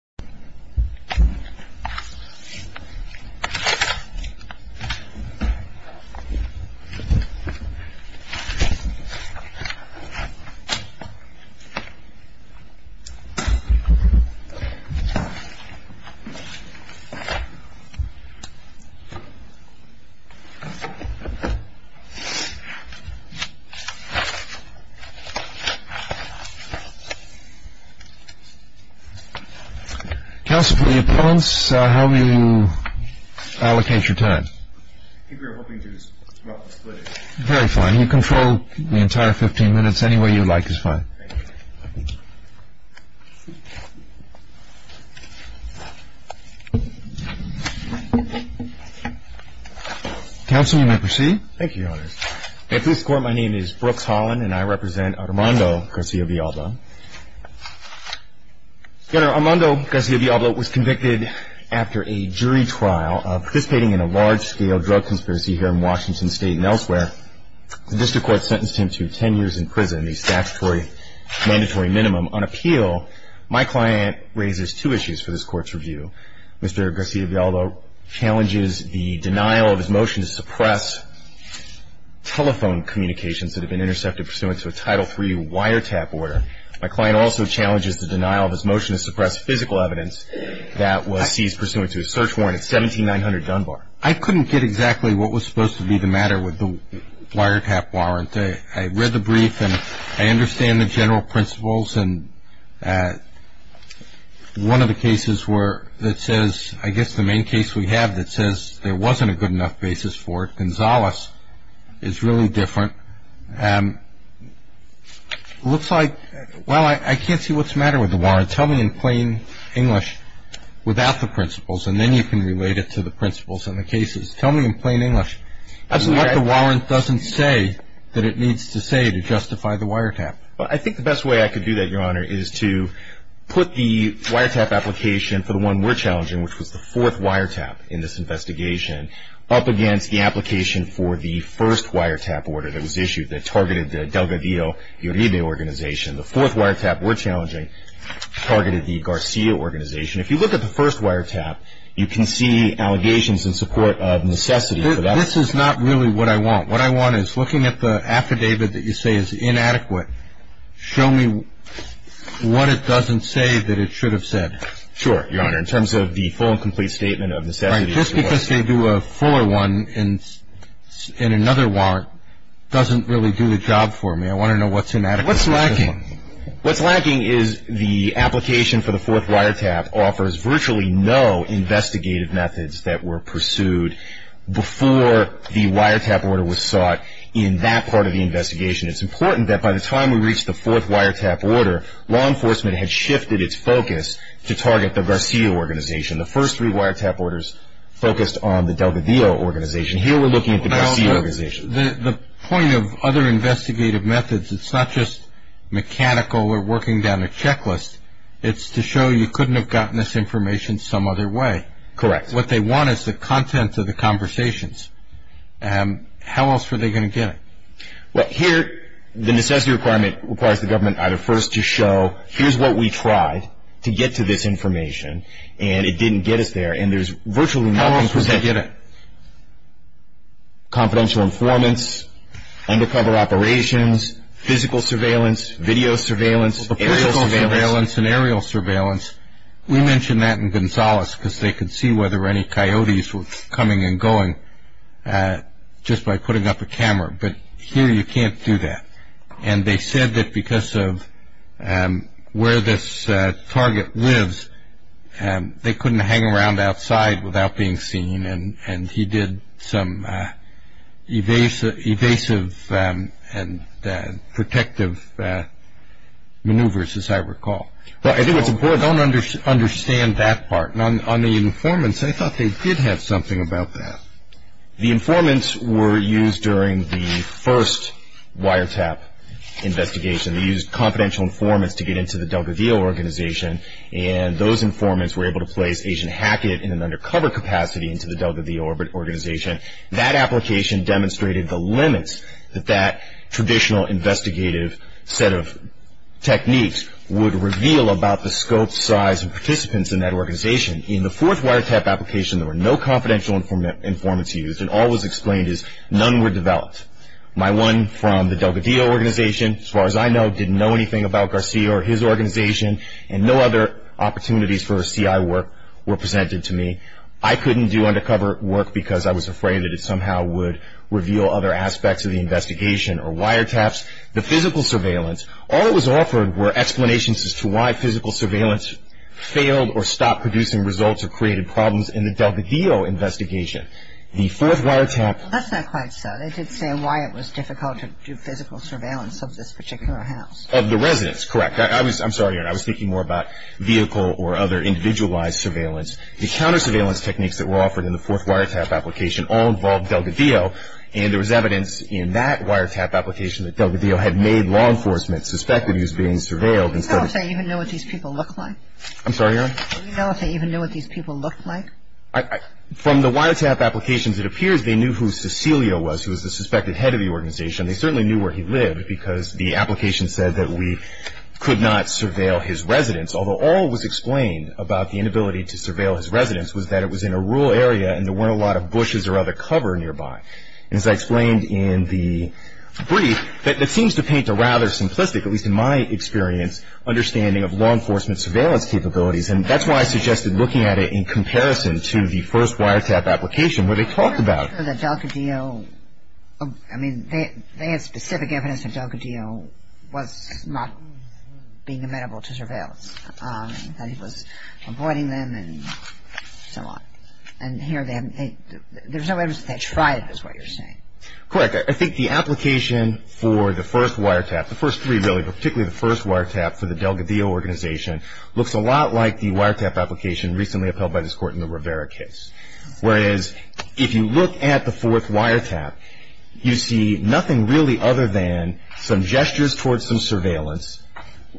The 믿full problem I am dealing with is issues related to security Counsel for the opponents, how will you allocate your time? I think we were hoping to split it. Very fine, you can throw the entire 15 minutes, any way you like is fine. Thank you. Counsel, you may proceed. Thank you, Your Honor. At this court, my name is Brooks Holland and I represent Armando Garcia Villalba. Your Honor, Armando Garcia Villalba was convicted after a jury trial of participating in a large-scale drug conspiracy here in Washington State and elsewhere. The district court sentenced him to 10 years in prison, the statutory mandatory minimum. On appeal, my client raises two issues for this court's review. Mr. Garcia Villalba challenges the denial of his motion to suppress telephone communications that have been intercepted pursuant to a Title III wiretap order. My client also challenges the denial of his motion to suppress physical evidence that was seized pursuant to a search warrant at 17900 Dunbar. I couldn't get exactly what was supposed to be the matter with the wiretap warrant. I read the brief and I understand the general principles. One of the cases that says, I guess the main case we have that says there wasn't a good enough basis for it, is really different. It looks like, well, I can't see what's the matter with the warrant. Tell me in plain English without the principles and then you can relate it to the principles in the cases. Tell me in plain English what the warrant doesn't say that it needs to say to justify the wiretap. Well, I think the best way I could do that, Your Honor, is to put the wiretap application for the one we're challenging, which was the fourth wiretap in this investigation, up against the application for the first wiretap order that was issued that targeted the Delgadillo Uribe organization. The fourth wiretap we're challenging targeted the Garcia organization. If you look at the first wiretap, you can see allegations in support of necessity for that. This is not really what I want. What I want is looking at the affidavit that you say is inadequate, show me what it doesn't say that it should have said. Sure, Your Honor. In terms of the full and complete statement of necessity. Right. Just because they do a fuller one in another warrant doesn't really do the job for me. I want to know what's the matter with this one. What's lacking? What's lacking is the application for the fourth wiretap offers virtually no investigative methods that were pursued before the wiretap order was sought in that part of the investigation. It's important that by the time we reached the fourth wiretap order, law enforcement had shifted its focus to target the Garcia organization. The first three wiretap orders focused on the Delgadillo organization. Here we're looking at the Garcia organization. The point of other investigative methods, it's not just mechanical or working down a checklist. It's to show you couldn't have gotten this information some other way. Correct. What they want is the content of the conversations. How else were they going to get it? Well, here the necessity requirement requires the government either first to show, here's what we tried to get to this information, and it didn't get us there. And there's virtually nothing. How else was they going to get it? Confidential informants, undercover operations, physical surveillance, video surveillance. Aerial surveillance. Physical surveillance and aerial surveillance. We mentioned that in Gonzales because they could see whether any coyotes were coming and going just by putting up a camera, but here you can't do that. And they said that because of where this target lives, they couldn't hang around outside without being seen, and he did some evasive and protective maneuvers, as I recall. Don't understand that part. On the informants, I thought they did have something about that. The informants were used during the first wiretap investigation. They used confidential informants to get into the Delta VO organization, and those informants were able to place Agent Hackett in an undercover capacity into the Delta VO organization. That application demonstrated the limits that that traditional investigative set of techniques would reveal about the scope, size, and participants in that organization. In the fourth wiretap application, there were no confidential informants used, and all was explained is none were developed. My one from the Delta VO organization, as far as I know, didn't know anything about Garcia or his organization, and no other opportunities for CI work were presented to me. I couldn't do undercover work because I was afraid that it somehow would reveal other aspects of the investigation or wiretaps. The physical surveillance, all that was offered were explanations as to why physical surveillance failed or stopped producing results or created problems in the Delta VO investigation. The fourth wiretap... That's not quite so. They did say why it was difficult to do physical surveillance of this particular house. Of the residents, correct. I'm sorry, Erin. I was thinking more about vehicle or other individualized surveillance. The counter surveillance techniques that were offered in the fourth wiretap application all involved Delta VO, and there was evidence in that wiretap application that Delta VO had made law enforcement suspect that he was being surveilled instead of... Do you know if they even know what these people look like? I'm sorry, Erin. Do you know if they even know what these people look like? From the wiretap applications, it appears they knew who Cecilio was, who was the suspected head of the organization. They certainly knew where he lived because the application said that we could not surveil his residence, although all was explained about the inability to surveil his residence was that it was in a rural area and there weren't a lot of bushes or other cover nearby. As I explained in the brief, that seems to paint a rather simplistic, at least in my experience, understanding of law enforcement surveillance capabilities, and that's why I suggested looking at it in comparison to the first wiretap application where they talked about... I'm not sure that Delta VO... I mean, they had specific evidence that Delta VO was not being amenable to surveillance, that he was avoiding them and so on. And here they haven't... There's no evidence that they tried, is what you're saying. Correct. I think the application for the first wiretap, the first three, really, but particularly the first wiretap for the Delgadillo organization, looks a lot like the wiretap application recently upheld by this Court in the Rivera case. Whereas if you look at the fourth wiretap, you see nothing really other than some gestures towards some surveillance,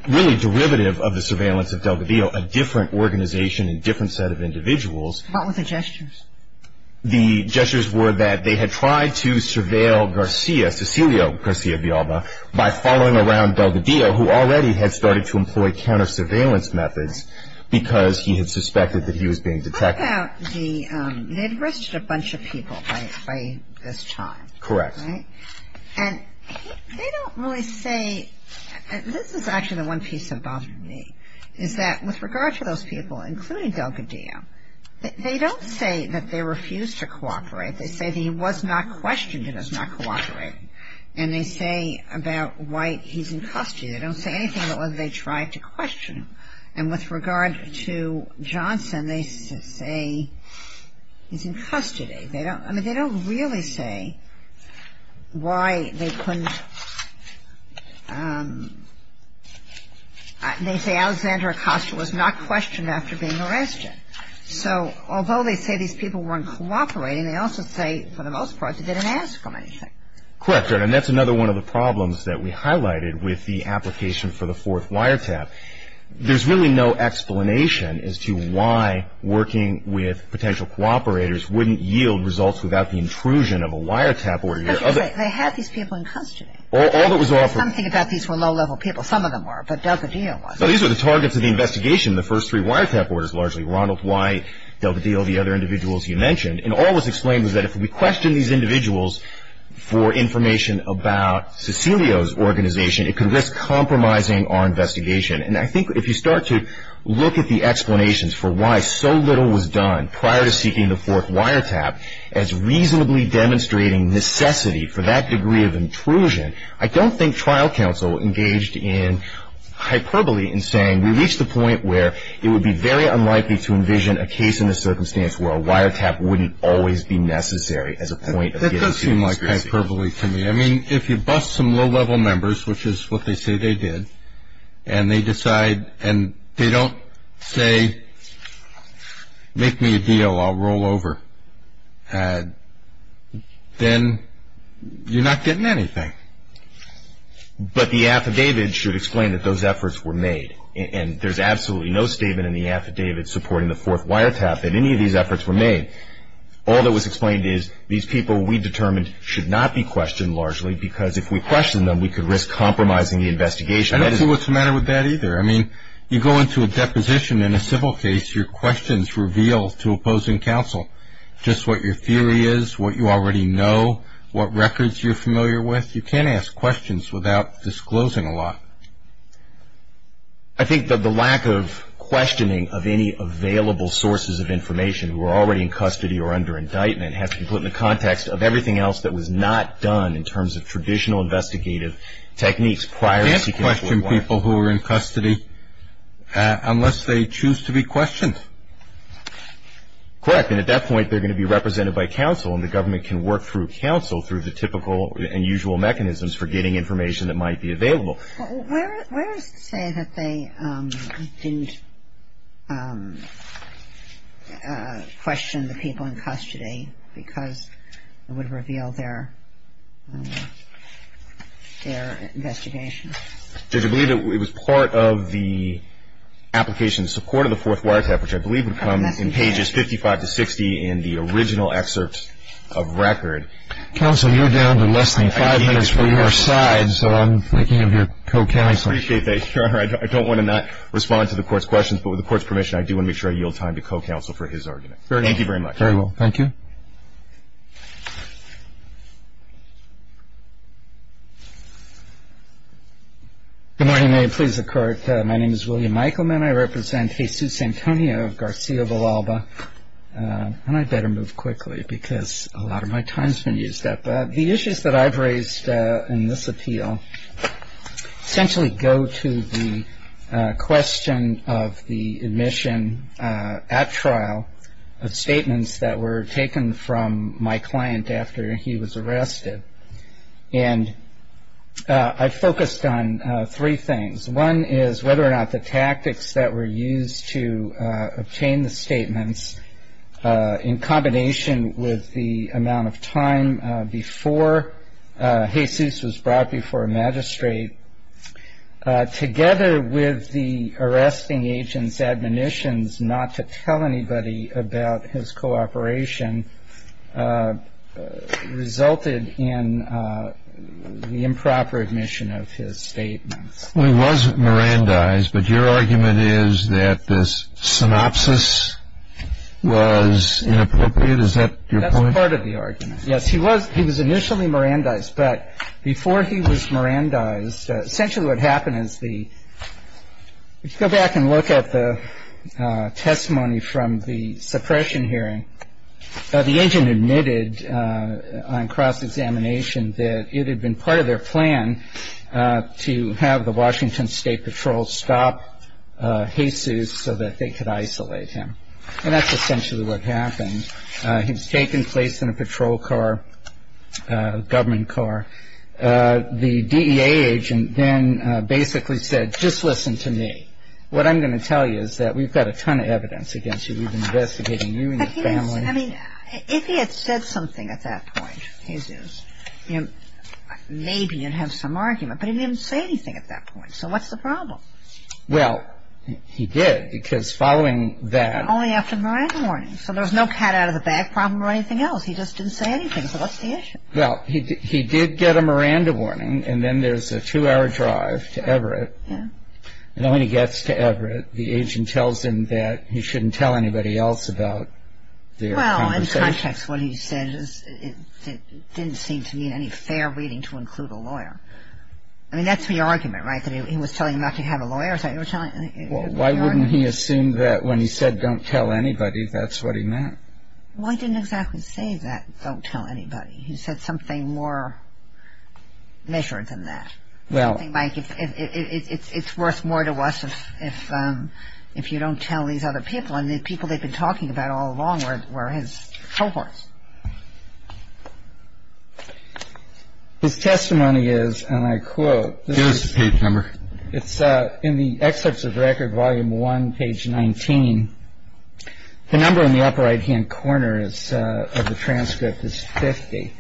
really derivative of the surveillance of Delgadillo, a different organization and different set of individuals. What were the gestures? The gestures were that they had tried to surveil Garcia, Cecilio Garcia Villalba, by following around Delgadillo, who already had started to employ counter-surveillance methods because he had suspected that he was being detected. What about the... They'd arrested a bunch of people by this time. Correct. Right? And they don't really say... This is actually the one piece that bothered me, is that with regard to those people, including Delgadillo, they don't say that they refuse to cooperate. They say that he was not questioned and is not cooperating. And they say about why he's in custody. They don't say anything about whether they tried to question him. And with regard to Johnson, they say he's in custody. They don't really say why they couldn't... They say Alexander Acosta was not questioned after being arrested. So although they say these people weren't cooperating, they also say for the most part they didn't ask him anything. Correct. And that's another one of the problems that we highlighted with the application for the fourth wiretap. There's really no explanation as to why working with potential cooperators wouldn't yield results without the intrusion of a wiretap order. But they had these people in custody. All that was offered... Something about these were low-level people. Some of them were, but Delgadillo wasn't. No, these were the targets of the investigation, the first three wiretap orders, largely. Ronald White, Delgadillo, the other individuals you mentioned. And all was explained was that if we questioned these individuals for information about Cecilio's organization, it could risk compromising our investigation. And I think if you start to look at the explanations for why so little was done prior to seeking the fourth wiretap as reasonably demonstrating necessity for that degree of intrusion, I don't think trial counsel engaged in hyperbole in saying we reached the point where it would be very unlikely to envision a case in the circumstance where a wiretap wouldn't always be necessary as a point of getting to the conspiracy. That does seem like hyperbole to me. I mean, if you bust some low-level members, which is what they say they did, and they decide and they don't say make me a deal, I'll roll over, then you're not getting anything. But the affidavit should explain that those efforts were made, and there's absolutely no statement in the affidavit supporting the fourth wiretap that any of these efforts were made. All that was explained is these people we determined should not be questioned largely because if we question them, we could risk compromising the investigation. I don't see what's the matter with that either. I mean, you go into a deposition in a civil case, your questions reveal to opposing counsel just what your theory is, what you already know, what records you're familiar with. You can't ask questions without disclosing a lot. I think that the lack of questioning of any available sources of information who are already in custody or under indictment has to be put in the context of everything else that was not done in terms of traditional investigative techniques prior to seeking a full warrant. You can't question people who are in custody unless they choose to be questioned. Correct, and at that point they're going to be represented by counsel and the government can work through counsel through the typical and usual mechanisms for getting information that might be available. Well, where is it to say that they didn't question the people in custody because it would reveal their investigation? Judge, I believe it was part of the application in support of the fourth wiretap, which I believe would come in pages 55 to 60 in the original excerpt of record. Counsel, you're down to less than five minutes for your side, so I'm thinking of your co-counseling. I appreciate that, Your Honor. I don't want to not respond to the Court's questions, but with the Court's permission I do want to make sure I yield time to co-counsel for his argument. Thank you very much. Very well. Thank you. Good morning. May it please the Court. My name is William Eichelman. I represent Jesus Antonio Garcia Villalba, and I'd better move quickly because a lot of my time has been used up. The issues that I've raised in this appeal essentially go to the question of the admission at trial of statements that were taken from my client after he was arrested. And I focused on three things. One is whether or not the tactics that were used to obtain the statements, in combination with the amount of time before Jesus was brought before a magistrate, together with the arresting agent's admonitions not to tell anybody about his cooperation, resulted in the improper admission of his statements. Well, he was Mirandized, but your argument is that this synopsis was inappropriate? Is that your point? That's part of the argument. Yes, he was initially Mirandized, but before he was Mirandized, essentially what happened is the, if you go back and look at the testimony from the suppression hearing, the agent admitted on cross-examination that it had been part of their plan to have the Washington State Patrol stop Jesus so that they could isolate him. And that's essentially what happened. He was taken, placed in a patrol car, government car. The DEA agent then basically said, just listen to me. What I'm going to tell you is that we've got a ton of evidence against you. We've been investigating you and your family. But he didn't say, I mean, if he had said something at that point, Jesus, maybe you'd have some argument, but he didn't say anything at that point. So what's the problem? Well, he did, because following that. Only after the Miranda warning. So there was no cat out of the bag problem or anything else. He just didn't say anything. So what's the issue? Well, he did get a Miranda warning, and then there's a two-hour drive to Everett. Yeah. And when he gets to Everett, the agent tells him that he shouldn't tell anybody else about their conversation. Well, in context, what he said is it didn't seem to me any fair reading to include a lawyer. I mean, that's the argument, right, that he was telling him not to have a lawyer. Well, why wouldn't he assume that when he said don't tell anybody, that's what he meant? Well, he didn't exactly say that, don't tell anybody. He said something more measured than that. Well. I think, Mike, it's worth more to us if you don't tell these other people, and the people they've been talking about all along were his cohorts. His testimony is, and I quote. Give us the page number. It's in the excerpts of record, volume one, page 19. The number in the upper right-hand corner of the transcript is 50.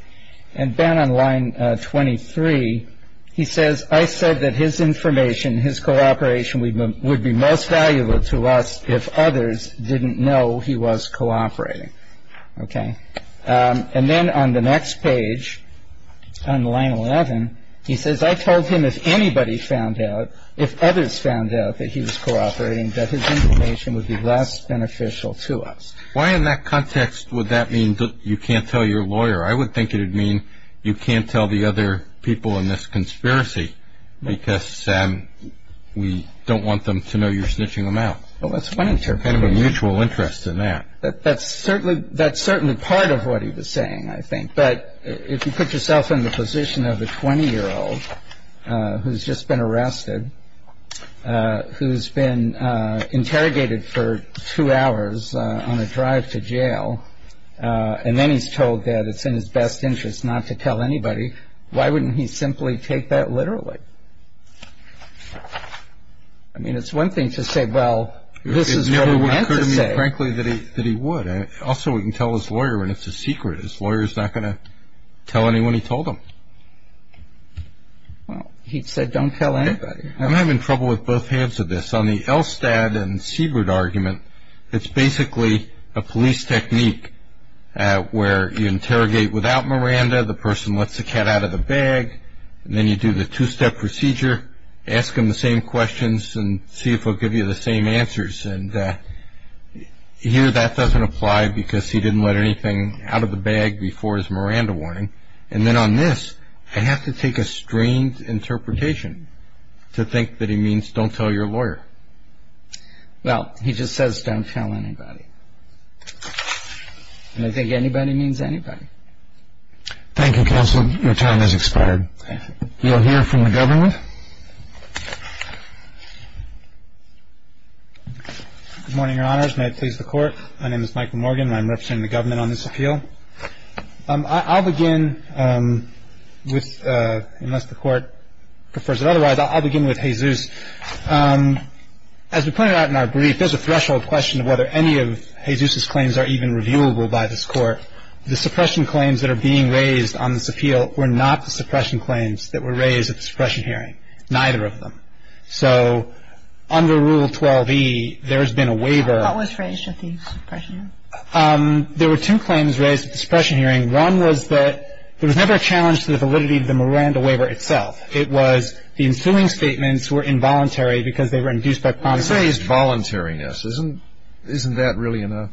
And then on line 23, he says, I said that his information, his cooperation would be most valuable to us if others didn't know he was cooperating. Okay. And then on the next page, on line 11, he says, I told him if anybody found out, if others found out that he was cooperating, that his information would be less beneficial to us. Why in that context would that mean you can't tell your lawyer? I would think it would mean you can't tell the other people in this conspiracy because we don't want them to know you're snitching them out. Well, that's one interpretation. Kind of a mutual interest in that. That's certainly part of what he was saying, I think. But if you put yourself in the position of a 20-year-old who's just been arrested, who's been interrogated for two hours on a drive to jail, and then he's told that it's in his best interest not to tell anybody, why wouldn't he simply take that literally? I mean, it's one thing to say, well, this is what he meant to say. Frankly, that he would. Also, we can tell his lawyer and it's a secret. His lawyer is not going to tell anyone he told him. Well, he said don't tell anybody. I'm having trouble with both halves of this. On the Elstad and Siebert argument, it's basically a police technique where you interrogate without Miranda, the person lets the cat out of the bag, and then you do the two-step procedure, ask him the same questions and see if he'll give you the same answers. And here that doesn't apply because he didn't let anything out of the bag before his Miranda warning. And then on this, I have to take a strange interpretation to think that he means don't tell your lawyer. Well, he just says don't tell anybody. And I think anybody means anybody. Thank you, counsel. Your time has expired. We will hear from the government. Good morning, Your Honors. May it please the Court. My name is Michael Morgan and I'm representing the government on this appeal. I'll begin with, unless the Court prefers it otherwise, I'll begin with Jesus. As we pointed out in our brief, there's a threshold question of whether any of Jesus's claims are even reviewable by this Court. The suppression claims that are being raised on this appeal were not the suppression claims that were raised at the suppression hearing, neither of them. So under Rule 12e, there has been a waiver. What was raised at the suppression hearing? There were two claims raised at the suppression hearing. One was that there was never a challenge to the validity of the Miranda waiver itself. It was the ensuing statements were involuntary because they were induced by promiscuity. You say it's voluntariness. Isn't that really enough?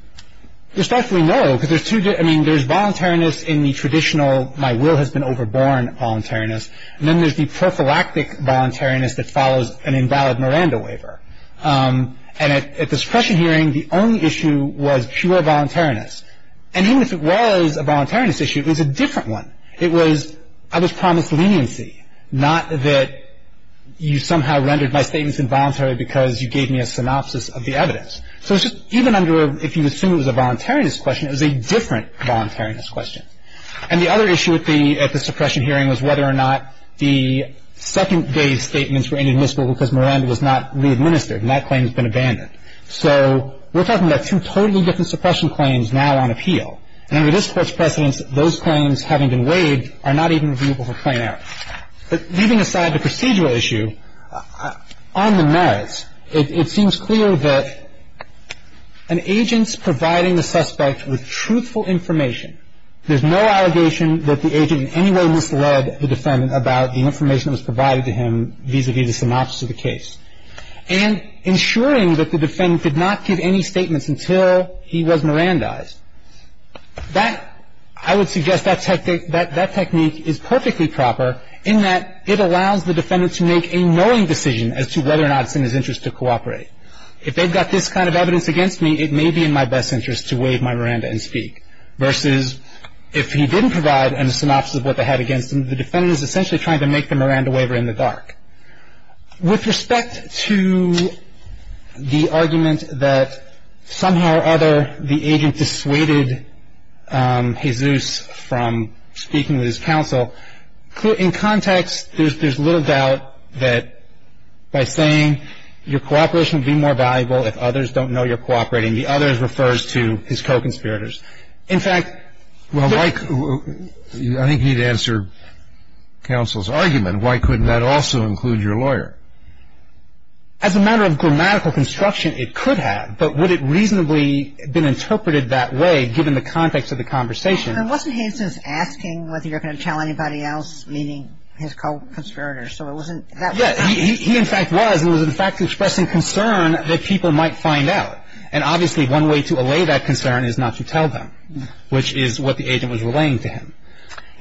There's definitely no. I mean, there's voluntariness in the traditional, my will has been overborne, voluntariness. And then there's the prophylactic voluntariness that follows an invalid Miranda waiver. And at the suppression hearing, the only issue was pure voluntariness. And even if it was a voluntariness issue, it was a different one. It was, I was promised leniency, not that you somehow rendered my statements involuntary because you gave me a synopsis of the evidence. So it's just even under if you assume it was a voluntariness question, it was a different voluntariness question. And the other issue at the suppression hearing was whether or not the second-day statements were inadmissible because Miranda was not readministered and that claim has been abandoned. So we're talking about two totally different suppression claims now on appeal. And under this Court's precedence, those claims, having been waived, are not even reviewable for plain error. But leaving aside the procedural issue, on the merits, it seems clear that an agent's providing the suspect with truthful information, there's no allegation that the agent in any way misled the defendant about the information that was provided to him vis-à-vis the synopsis of the case. And ensuring that the defendant did not give any statements until he was Mirandized, that, I would suggest that technique is perfectly proper in that it allows the defendant to make a knowing decision as to whether or not it's in his interest to cooperate. If they've got this kind of evidence against me, it may be in my best interest to waive my Miranda and speak, versus if he didn't provide a synopsis of what they had against him, the defendant is essentially trying to make the Miranda waiver in the dark. With respect to the argument that somehow or other the agent dissuaded Jesus from speaking with his counsel, in context, there's little doubt that by saying your cooperation would be more valuable if others don't know you're cooperating, the others refers to his co-conspirators. In fact, the other thing that I think you need to answer counsel's argument, why couldn't that also include your lawyer? As a matter of grammatical construction, it could have, but would it reasonably have been interpreted that way given the context of the conversation? And wasn't Jesus asking whether you're going to tell anybody else, meaning his co-conspirators? So it wasn't that way? Yes, he in fact was, and was in fact expressing concern that people might find out. And obviously one way to allay that concern is not to tell them, which is what the agent was relaying to him.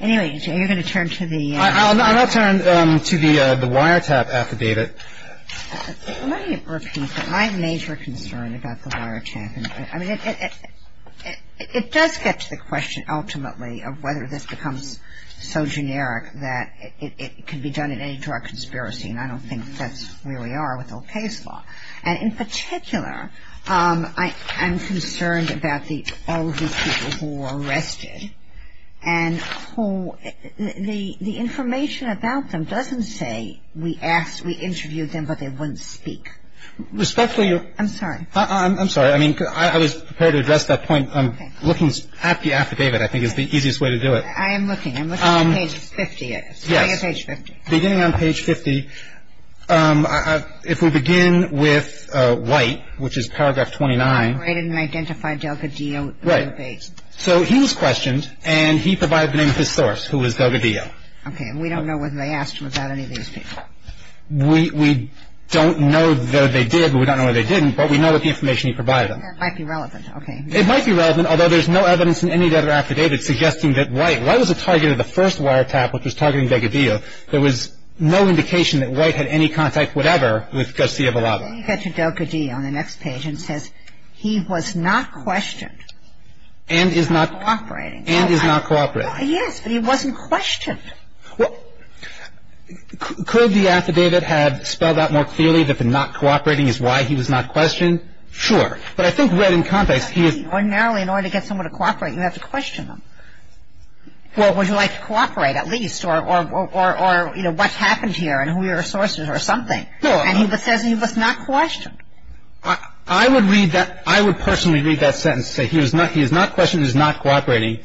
Anyway, you're going to turn to the… I will turn to the wiretap affidavit. Let me repeat that my major concern about the wiretap, I mean it does get to the question ultimately of whether this becomes so generic that it could be done in any drug conspiracy, and I don't think that's where we are with old case law. And in particular, I'm concerned about all of these people who were arrested and who the information about them doesn't say we asked, we interviewed them, but they wouldn't speak. Respectfully your… I'm sorry. I'm sorry. I mean, I was prepared to address that point. Looking at the affidavit I think is the easiest way to do it. I am looking. I'm looking at page 50. Yes. Beginning on page 50, if we begin with White, which is paragraph 29. I didn't identify Delgadillo. Right. So he was questioned, and he provided the name of his source, who was Delgadillo. Okay. And we don't know whether they asked him about any of these people. We don't know that they did, but we don't know that they didn't, but we know that the information he provided them. That might be relevant. Okay. It might be relevant, although there's no evidence in any other affidavit suggesting that White, White was the target of the first wiretap, which was targeting Delgadillo. There was no indication that White had any contact whatever with Garcia Villalba. He gets to Delgadillo on the next page and says he was not questioned. And is not cooperating. And is not cooperating. Yes, but he wasn't questioned. Well, could the affidavit have spelled out more clearly that the not cooperating is why he was not questioned? Sure. But I think right in context he is I mean, ordinarily in order to get someone to cooperate, you have to question them. Well, would you like to cooperate at least? Or, you know, what happened here and who your sources are or something. And he says he was not questioned. I would read that, I would personally read that sentence and say he is not questioned, he is not cooperating.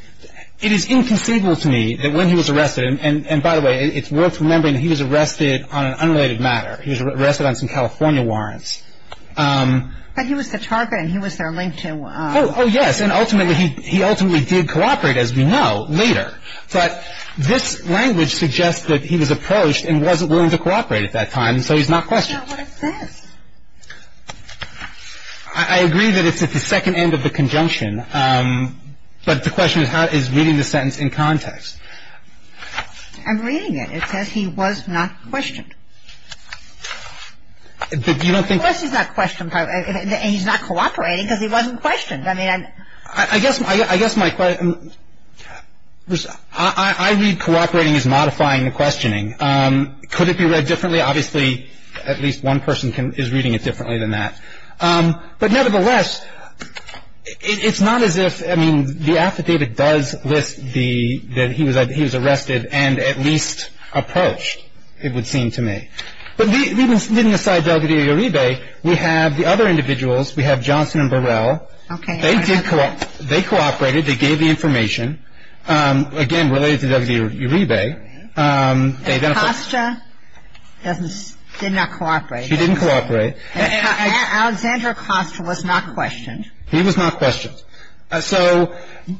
It is inconceivable to me that when he was arrested, and by the way, it's worth remembering he was arrested on an unrelated matter. He was arrested on some California warrants. But he was the target and he was their link to Oh, yes. And ultimately he ultimately did cooperate, as we know, later. But this language suggests that he was approached and wasn't willing to cooperate at that time, so he's not questioned. So what is this? I agree that it's at the second end of the conjunction. But the question is reading the sentence in context. I'm reading it. It says he was not questioned. But you don't think And he's not cooperating because he wasn't questioned. I guess my question, I read cooperating as modifying the questioning. Could it be read differently? Obviously, at least one person is reading it differently than that. But nevertheless, it's not as if, I mean, the affidavit does list that he was arrested and at least approached, it would seem to me. But leaving aside Delgadillo-Uribe, we have the other individuals. We have Johnson and Burrell. Okay. They did cooperate. They cooperated. They gave the information, again, related to Delgadillo-Uribe. Acosta did not cooperate. She didn't cooperate. Alexander Acosta was not questioned.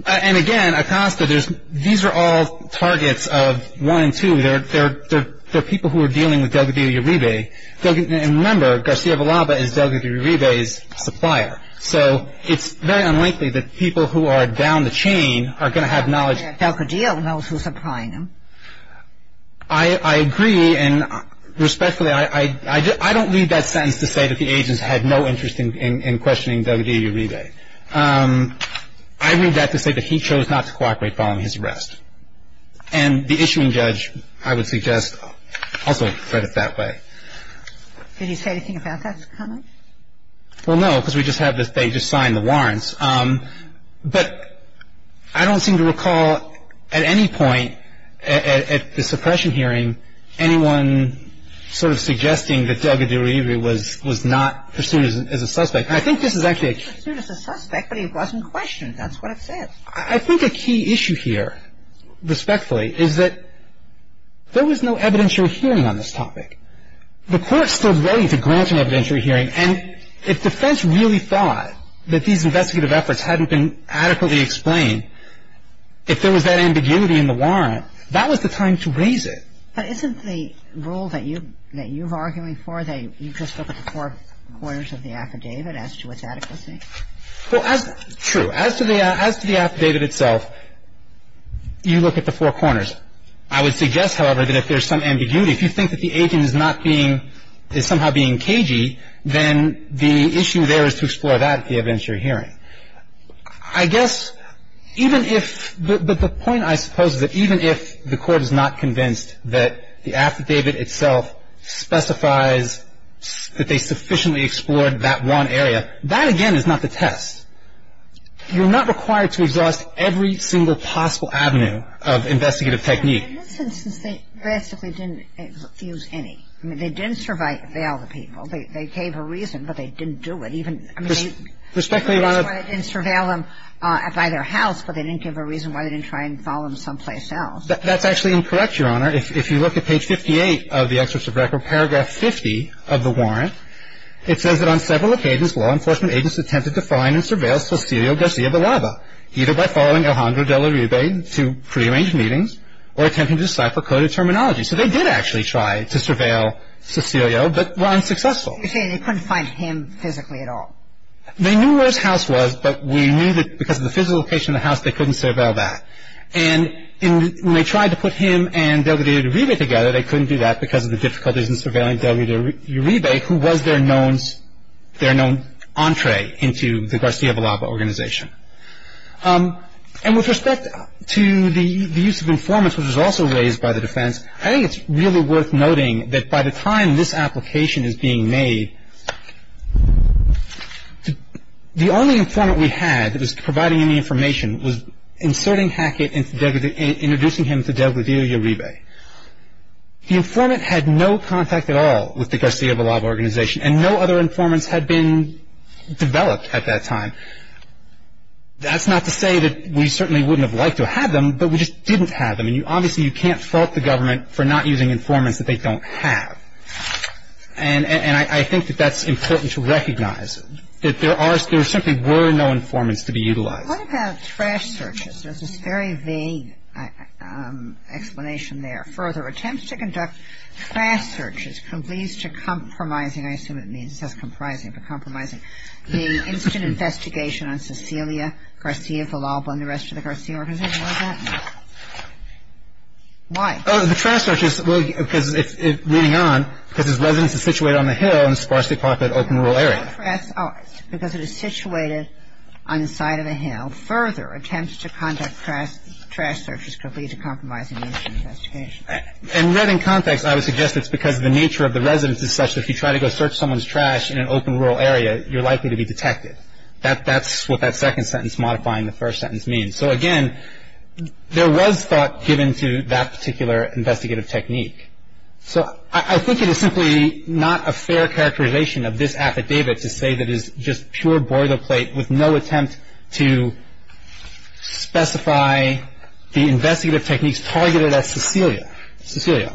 And again, Acosta, these are all targets of one and two. They're people who are dealing with Delgadillo-Uribe. And remember, Garcia Villalba is Delgadillo-Uribe's supplier. So it's very unlikely that people who are down the chain are going to have knowledge. Delgadillo knows who's supplying him. I agree. And respectfully, I don't read that sentence to say that the agents had no interest in questioning Delgadillo-Uribe. I read that to say that he chose not to cooperate following his arrest. And the issuing judge, I would suggest, also read it that way. Did he say anything about that comment? Well, no, because we just have this they just signed the warrants. But I don't seem to recall at any point at the suppression hearing anyone sort of suggesting that Delgadillo-Uribe was not pursued as a suspect. And I think this is actually a key – Pursued as a suspect, but he wasn't questioned. That's what it says. I think a key issue here, respectfully, is that there was no evidentiary hearing on this topic. The court stood ready to grant an evidentiary hearing. And if defense really thought that these investigative efforts hadn't been adequately explained, if there was that ambiguity in the warrant, that was the time to raise it. But isn't the rule that you – that you're arguing for, that you just look at the four corners of the affidavit as to its adequacy? Well, as – true. As to the affidavit itself, you look at the four corners. I would suggest, however, that if there's some ambiguity, if you think that the agent is not being – is somehow being cagey, then the issue there is to explore that at the evidentiary hearing. I guess even if – but the point, I suppose, is that even if the court is not convinced that the affidavit itself specifies that they sufficiently explored that one area, that, again, is not the test. You're not required to exhaust every single possible avenue of investigative technique. In this instance, they basically didn't use any. I mean, they didn't surveil the people. They gave a reason, but they didn't do it. Even, I mean, they – Respectfully, Your Honor. They didn't surveil them by their house, but they didn't give a reason why they didn't try and follow them someplace else. That's actually incorrect, Your Honor. If you look at page 58 of the Excerpt of Record, paragraph 50 of the warrant, it says that on several occasions, law enforcement agents attempted to find and surveil Cecilio Garcia Villalba, either by following Alejandro de Uribe to prearranged meetings or attempting to decipher coded terminology. So they did actually try to surveil Cecilio, but were unsuccessful. You're saying they couldn't find him physically at all? They knew where his house was, but we knew that because of the physical location of the house, they couldn't surveil that. And when they tried to put him and de Uribe together, they couldn't do that because of the difficulties in surveilling de Uribe, who was their known entree into the Garcia Villalba organization. And with respect to the use of informants, which was also raised by the defense, I think it's really worth noting that by the time this application is being made, the only informant we had that was providing any information was inserting Hackett and introducing him to de Uribe. The informant had no contact at all with the Garcia Villalba organization, and no other informants had been developed at that time. That's not to say that we certainly wouldn't have liked to have them, but we just didn't have them. And obviously you can't fault the government for not using informants that they don't have. And I think that that's important to recognize, that there simply were no informants to be utilized. What about trash searches? There's this very vague explanation there. Further attempts to conduct trash searches, complies to compromising, I assume it means, it says comprising, but compromising, the instant investigation on Cecilia Garcia Villalba and the rest of the Garcia organization. Why is that? Why? Oh, the trash searches, well, because it's, reading on, because his residence is situated on the hill in the Sparsely Populated Open Rural Area. Because it is situated on the side of a hill. Further attempts to conduct trash searches could lead to compromising the instant investigation. And read in context, I would suggest it's because the nature of the residence is such that if you try to go search someone's trash in an open rural area, you're likely to be detected. That's what that second sentence modifying the first sentence means. So again, there was thought given to that particular investigative technique. So I think it is simply not a fair characterization of this affidavit to say that it's just pure boilerplate with no attempt to specify the investigative techniques targeted at Cecilia. Cecilia,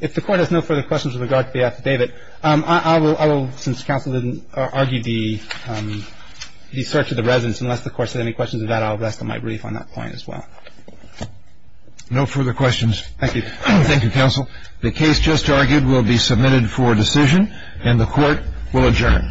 if the Court has no further questions with regard to the affidavit, I will, since counsel didn't argue the search of the residence, unless the Court has any questions of that, I'll rest on my brief on that point as well. No further questions. Thank you. Thank you, counsel. The case just argued will be submitted for decision, and the Court will adjourn.